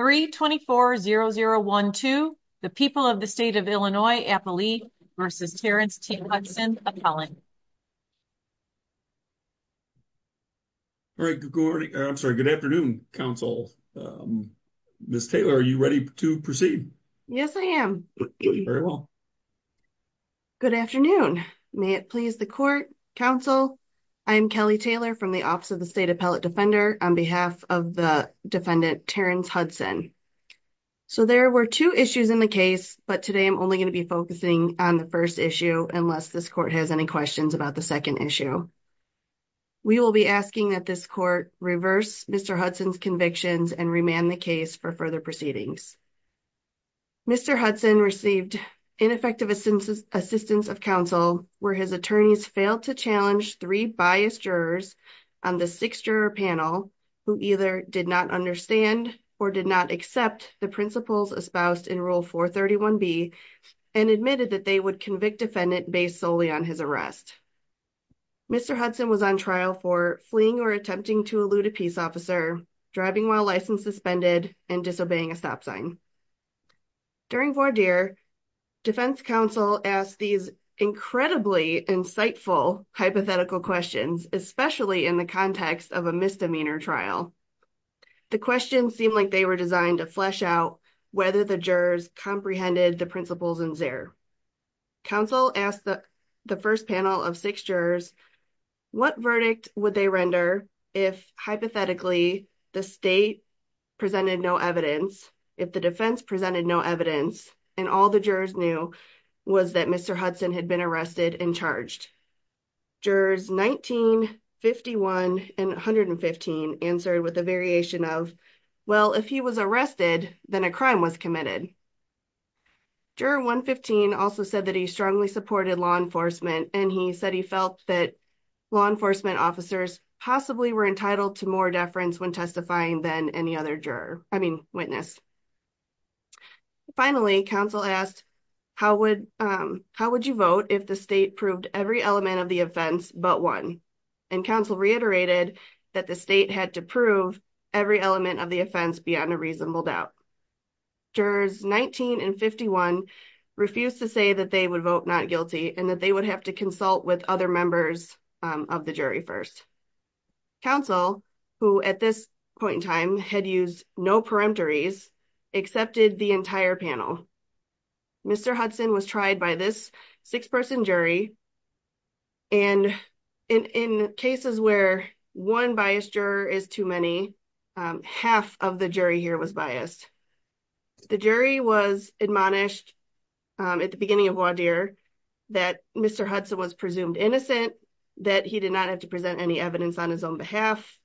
324-0012, the people of the state of Illinois, Appalachia v. Terrence T. Hudson, Appellant. Good afternoon, counsel. Ms. Taylor, are you ready to proceed? Yes, I am. Very well. Good afternoon. May it please the court, counsel. I am Kelly Taylor from the Office of the State Appellate Defender on behalf of the defendant, Terrence Hudson. So there were two issues in the case, but today I'm only going to be focusing on the first issue unless this court has any questions about the second issue. We will be asking that this court reverse Mr. Hudson's convictions and remand the case for further proceedings. Mr. Hudson received ineffective assistance of counsel where his attorneys failed to challenge three biased jurors on the six-juror panel who either did not understand or did not accept the principles espoused in Rule 431B and admitted that they would convict defendant based solely on his arrest. Mr. Hudson was on trial for fleeing or attempting to elude a peace officer, driving while license suspended, and disobeying a stop sign. During voir dire, defense counsel asked these incredibly insightful hypothetical questions, especially in the context of a misdemeanor trial. The questions seemed like they were designed to flesh out whether the jurors comprehended the principles in Xer. Counsel asked the first panel of six jurors what verdict would they render if hypothetically the state presented no evidence, if the defense presented no evidence, and all the jurors knew was that Mr. Hudson had been arrested and charged. Jurors 19, 51, and 115 answered with a variation of, well, if he was arrested, then a crime was committed. Juror 115 also said that he strongly supported law enforcement and he said he felt that law enforcement officers possibly were entitled to more deference when testifying than any other witness. Finally, counsel asked how would you vote if the state proved every element of the offense but one, and counsel reiterated that the state had to prove every element of the offense beyond a reasonable doubt. Jurors 19 and 51 refused to say that they would vote not guilty and that they would have to consult with other members of the jury first. Counsel, who at this point in time had used no peremptories, accepted the entire panel. Mr. Hudson was tried by this six-person jury, and in cases where one biased juror is too many, half of the jury here was biased. The jury was admonished at the beginning of Waudeer that Mr. Hudson was presumed innocent, that he did not have to present any evidence on his own behalf,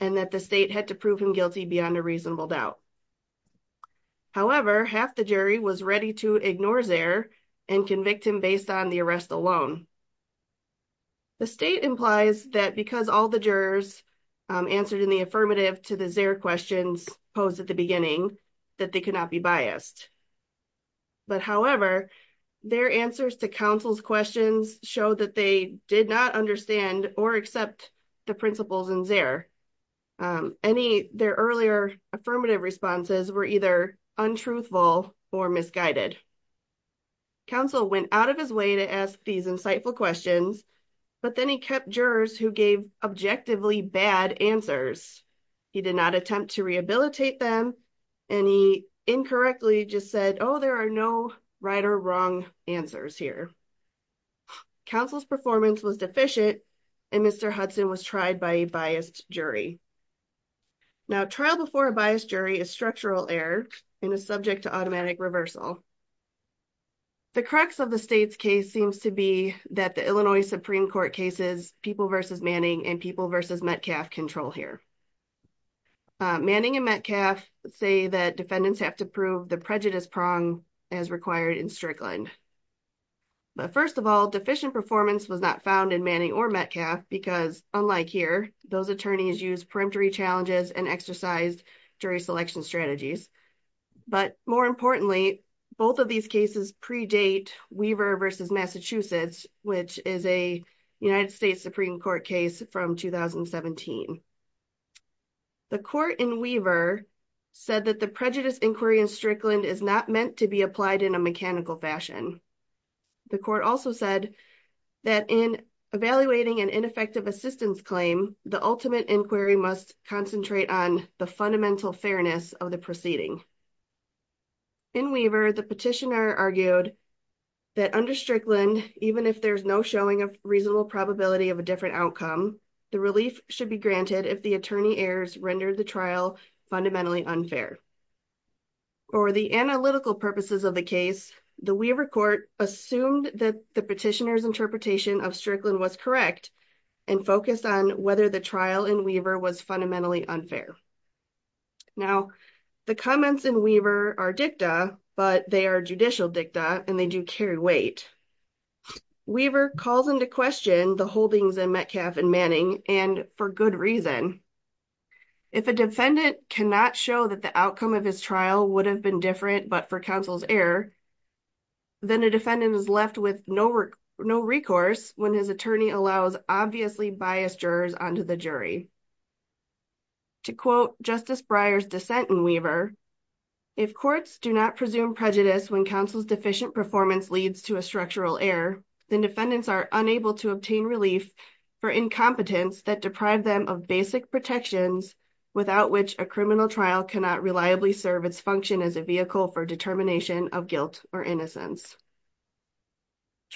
and that the state had to prove him guilty beyond a reasonable doubt. However, half the jury was ready to ignore Zaire and convict him based on the arrest alone. The state implies that because all the jurors answered in the affirmative to the Zaire questions posed at the beginning, that they could not be biased. But however, their answers to counsel's questions showed that they did not understand or accept the principles in Zaire. Their earlier affirmative responses were either untruthful or misguided. Counsel went out of his way to ask these insightful questions, but then he kept jurors who gave objectively bad answers. He did not attempt to rehabilitate them, and he incorrectly just said, oh, there are no right or wrong answers here. Counsel's performance was deficient, and Mr. Hudson was tried by a biased jury. Now, trial before a biased jury is structural error and is subject to automatic reversal. The crux of the state's case seems to be that the Illinois Supreme Court cases People v. Manning and People v. Metcalf control here. Manning and Metcalf say that defendants have to prove the prejudice prong as required in Strickland. But first of all, deficient performance was not found in Manning or Metcalf because, unlike here, those attorneys used peremptory challenges and exercised jury selection strategies. But more importantly, both of these cases predate Weaver v. Massachusetts, which is a United States Supreme Court case from 2017. The court in Weaver said that the prejudice inquiry in Strickland is not meant to be applied in a mechanical fashion. The court also said that in evaluating an ineffective assistance claim, the ultimate inquiry must concentrate on the fundamental fairness of the proceeding. In Weaver, the petitioner argued that under Strickland, even if there is no showing of reasonable probability of a different outcome, the relief should be granted if the attorney errors rendered the trial fundamentally unfair. For the analytical purposes of the case, the Weaver court assumed that the petitioner's interpretation of Strickland was correct and focused on whether the trial in Weaver was fundamentally unfair. Now, the comments in Weaver are dicta, but they are judicial dicta and they do carry weight. Weaver calls into question the holdings in Metcalf and Manning, and for good reason. If a defendant cannot show that the outcome of his trial would have been different but for counsel's error, then a defendant is left with no recourse when his attorney allows obviously biased jurors onto the jury. To quote Justice Breyer's dissent in Weaver,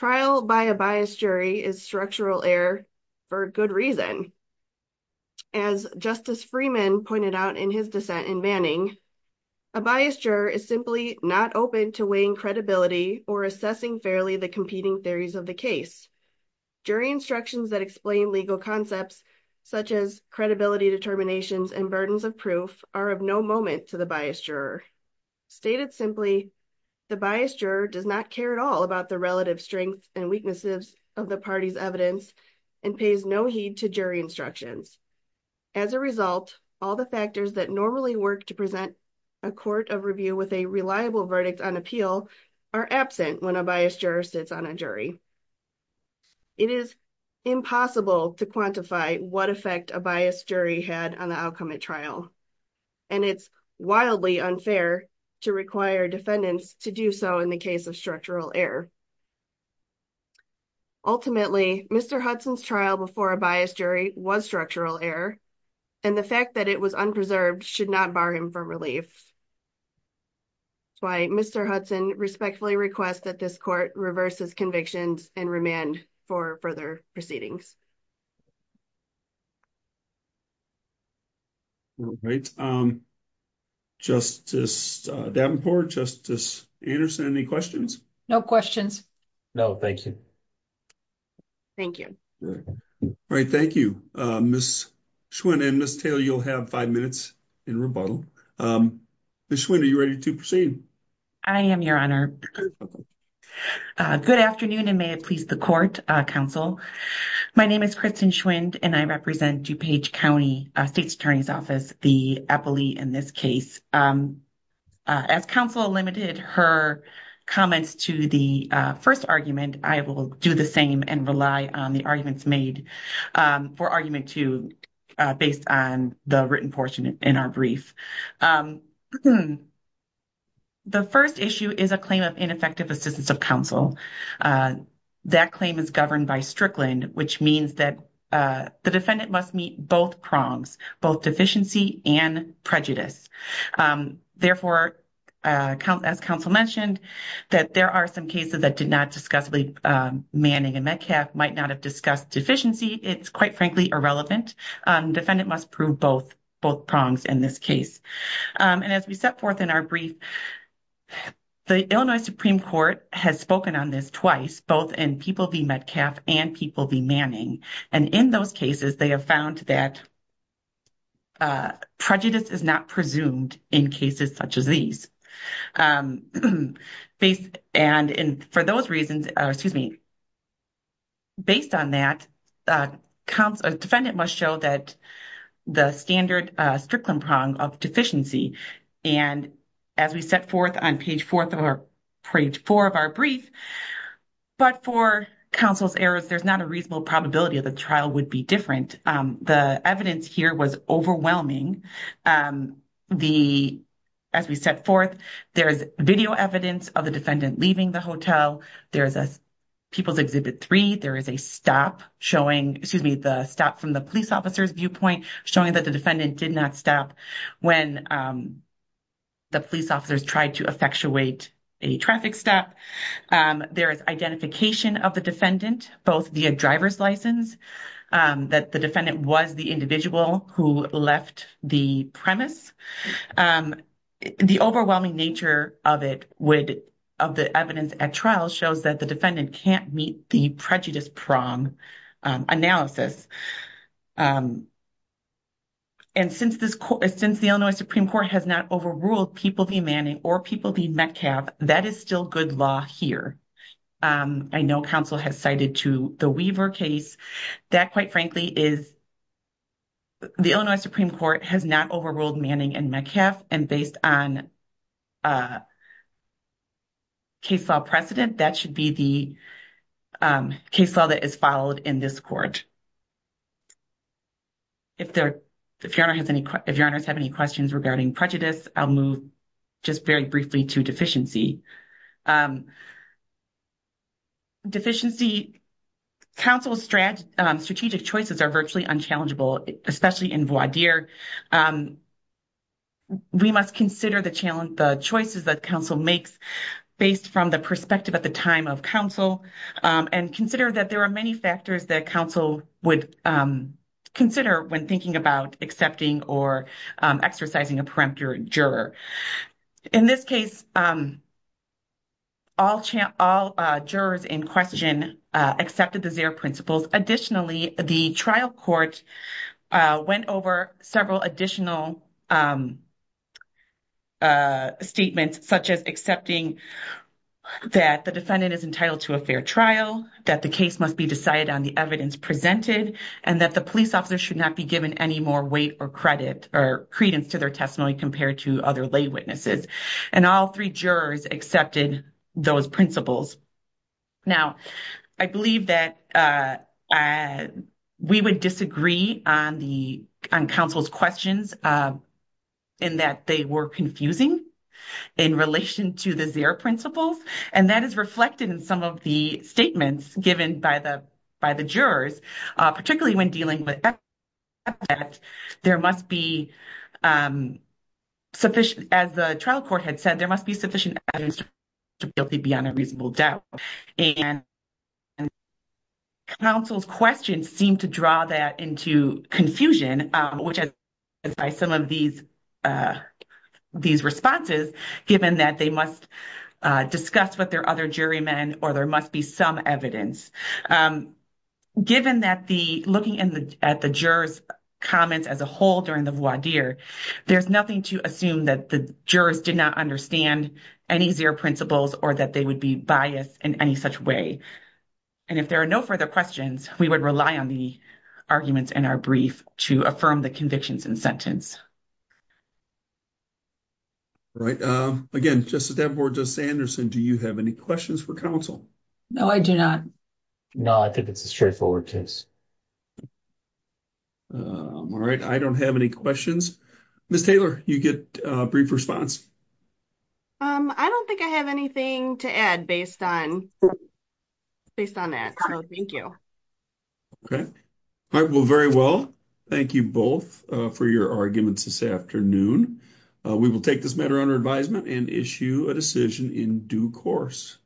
Trial by a biased jury is structural error for good reason. As Justice Freeman pointed out in his dissent in Manning, As a result, all the factors that normally work to present a court of review with a reliable verdict on appeal are absent when a biased juror sits on a jury. It is impossible to quantify what effect a biased jury had on the outcome at trial, and it's wildly unfair to require defendants to do so in the case of structural error. Ultimately, Mr. Hudson's trial before a biased jury was structural error, and the fact that it was unpreserved should not bar him from relief. That's why Mr. Hudson respectfully requests that this court reverse his convictions and remand for further proceedings. All right. Justice Davenport, Justice Anderson, any questions? No questions. No, thank you. Thank you. All right, thank you. Ms. Schwinn and Ms. Taylor, you'll have five minutes in rebuttal. Ms. Schwinn, are you ready to proceed? I am, Your Honor. Good afternoon, and may it please the court, counsel. My name is Kristen Schwinn, and I represent DuPage County State's Attorney's Office, the appellee in this case. As counsel limited her comments to the first argument, I will do the same and rely on the arguments made for argument two based on the written portion in our brief. The first issue is a claim of ineffective assistance of counsel. That claim is governed by Strickland, which means that the defendant must meet both prongs, both deficiency and prejudice. Therefore, as counsel mentioned, that there are some cases that did not discuss manning and Metcalfe might not have discussed deficiency. It's quite frankly irrelevant. Defendant must prove both prongs in this case. And as we set forth in our brief, the Illinois Supreme Court has spoken on this twice, both in People v. Metcalfe and People v. Manning. And in those cases, they have found that prejudice is not presumed in cases such as these. And for those reasons, excuse me, based on that, counsel or defendant must show that the standard Strickland prong of deficiency. And as we set forth on page 4 of our brief, but for counsel's errors, there's not a reasonable probability that the trial would be different. The evidence here was overwhelming. As we set forth, there's video evidence of the defendant leaving the hotel. There's a People's Exhibit 3. There is a stop showing, excuse me, the stop from the police officer's viewpoint, showing that the defendant did not stop when the police officers tried to effectuate a traffic stop. There is identification of the defendant, both via driver's license, that the defendant was the individual who left the premise. The overwhelming nature of it would – of the evidence at trial shows that the defendant can't meet the prejudice prong analysis. And since this – since the Illinois Supreme Court has not overruled People v. Manning or People v. Metcalfe, that is still good law here. I know counsel has cited to the Weaver case. That, quite frankly, is – the Illinois Supreme Court has not overruled Manning and Metcalfe. And based on case law precedent, that should be the case law that is followed in this court. If there – if Your Honor has any – if Your Honors have any questions regarding prejudice, I'll move just very briefly to deficiency. Deficiency – counsel's strategic choices are virtually unchallengeable, especially in voir dire. We must consider the choices that counsel makes based from the perspective at the time of counsel and consider that there are many factors that counsel would consider when thinking about accepting or exercising a peremptory juror. In this case, all jurors in question accepted the ZEHR principles. Additionally, the trial court went over several additional statements such as accepting that the defendant is entitled to a fair trial, that the case must be decided on the evidence presented, and that the police officer should not be given any more weight or credit or credence to their testimony compared to other lay witnesses. And all three jurors accepted those principles. Now, I believe that we would disagree on the – on counsel's questions in that they were confusing in relation to the ZEHR principles. And that is reflected in some of the statements given by the – by the jurors, particularly when dealing with evidence that there must be sufficient – as the trial court had said, there must be sufficient evidence to prove the defendant guilty beyond a reasonable doubt. And counsel's questions seem to draw that into confusion, which is by some of these responses, given that they must discuss with their other jurymen or there must be some evidence. Given that the – looking at the jurors' comments as a whole during the voir dire, there's nothing to assume that the jurors did not understand any ZEHR principles or that they would be biased in any such way. And if there are no further questions, we would rely on the arguments in our brief to affirm the convictions in sentence. All right. Again, Justice Davenport, Justice Anderson, do you have any questions for counsel? No, I do not. No, I think it's a straightforward case. All right. I don't have any questions. Ms. Taylor, you get a brief response. I don't think I have anything to add based on – based on that. So, thank you. Okay. All right. Well, very well. Thank you both for your arguments this afternoon. We will take this matter under advisement and issue a decision in due course.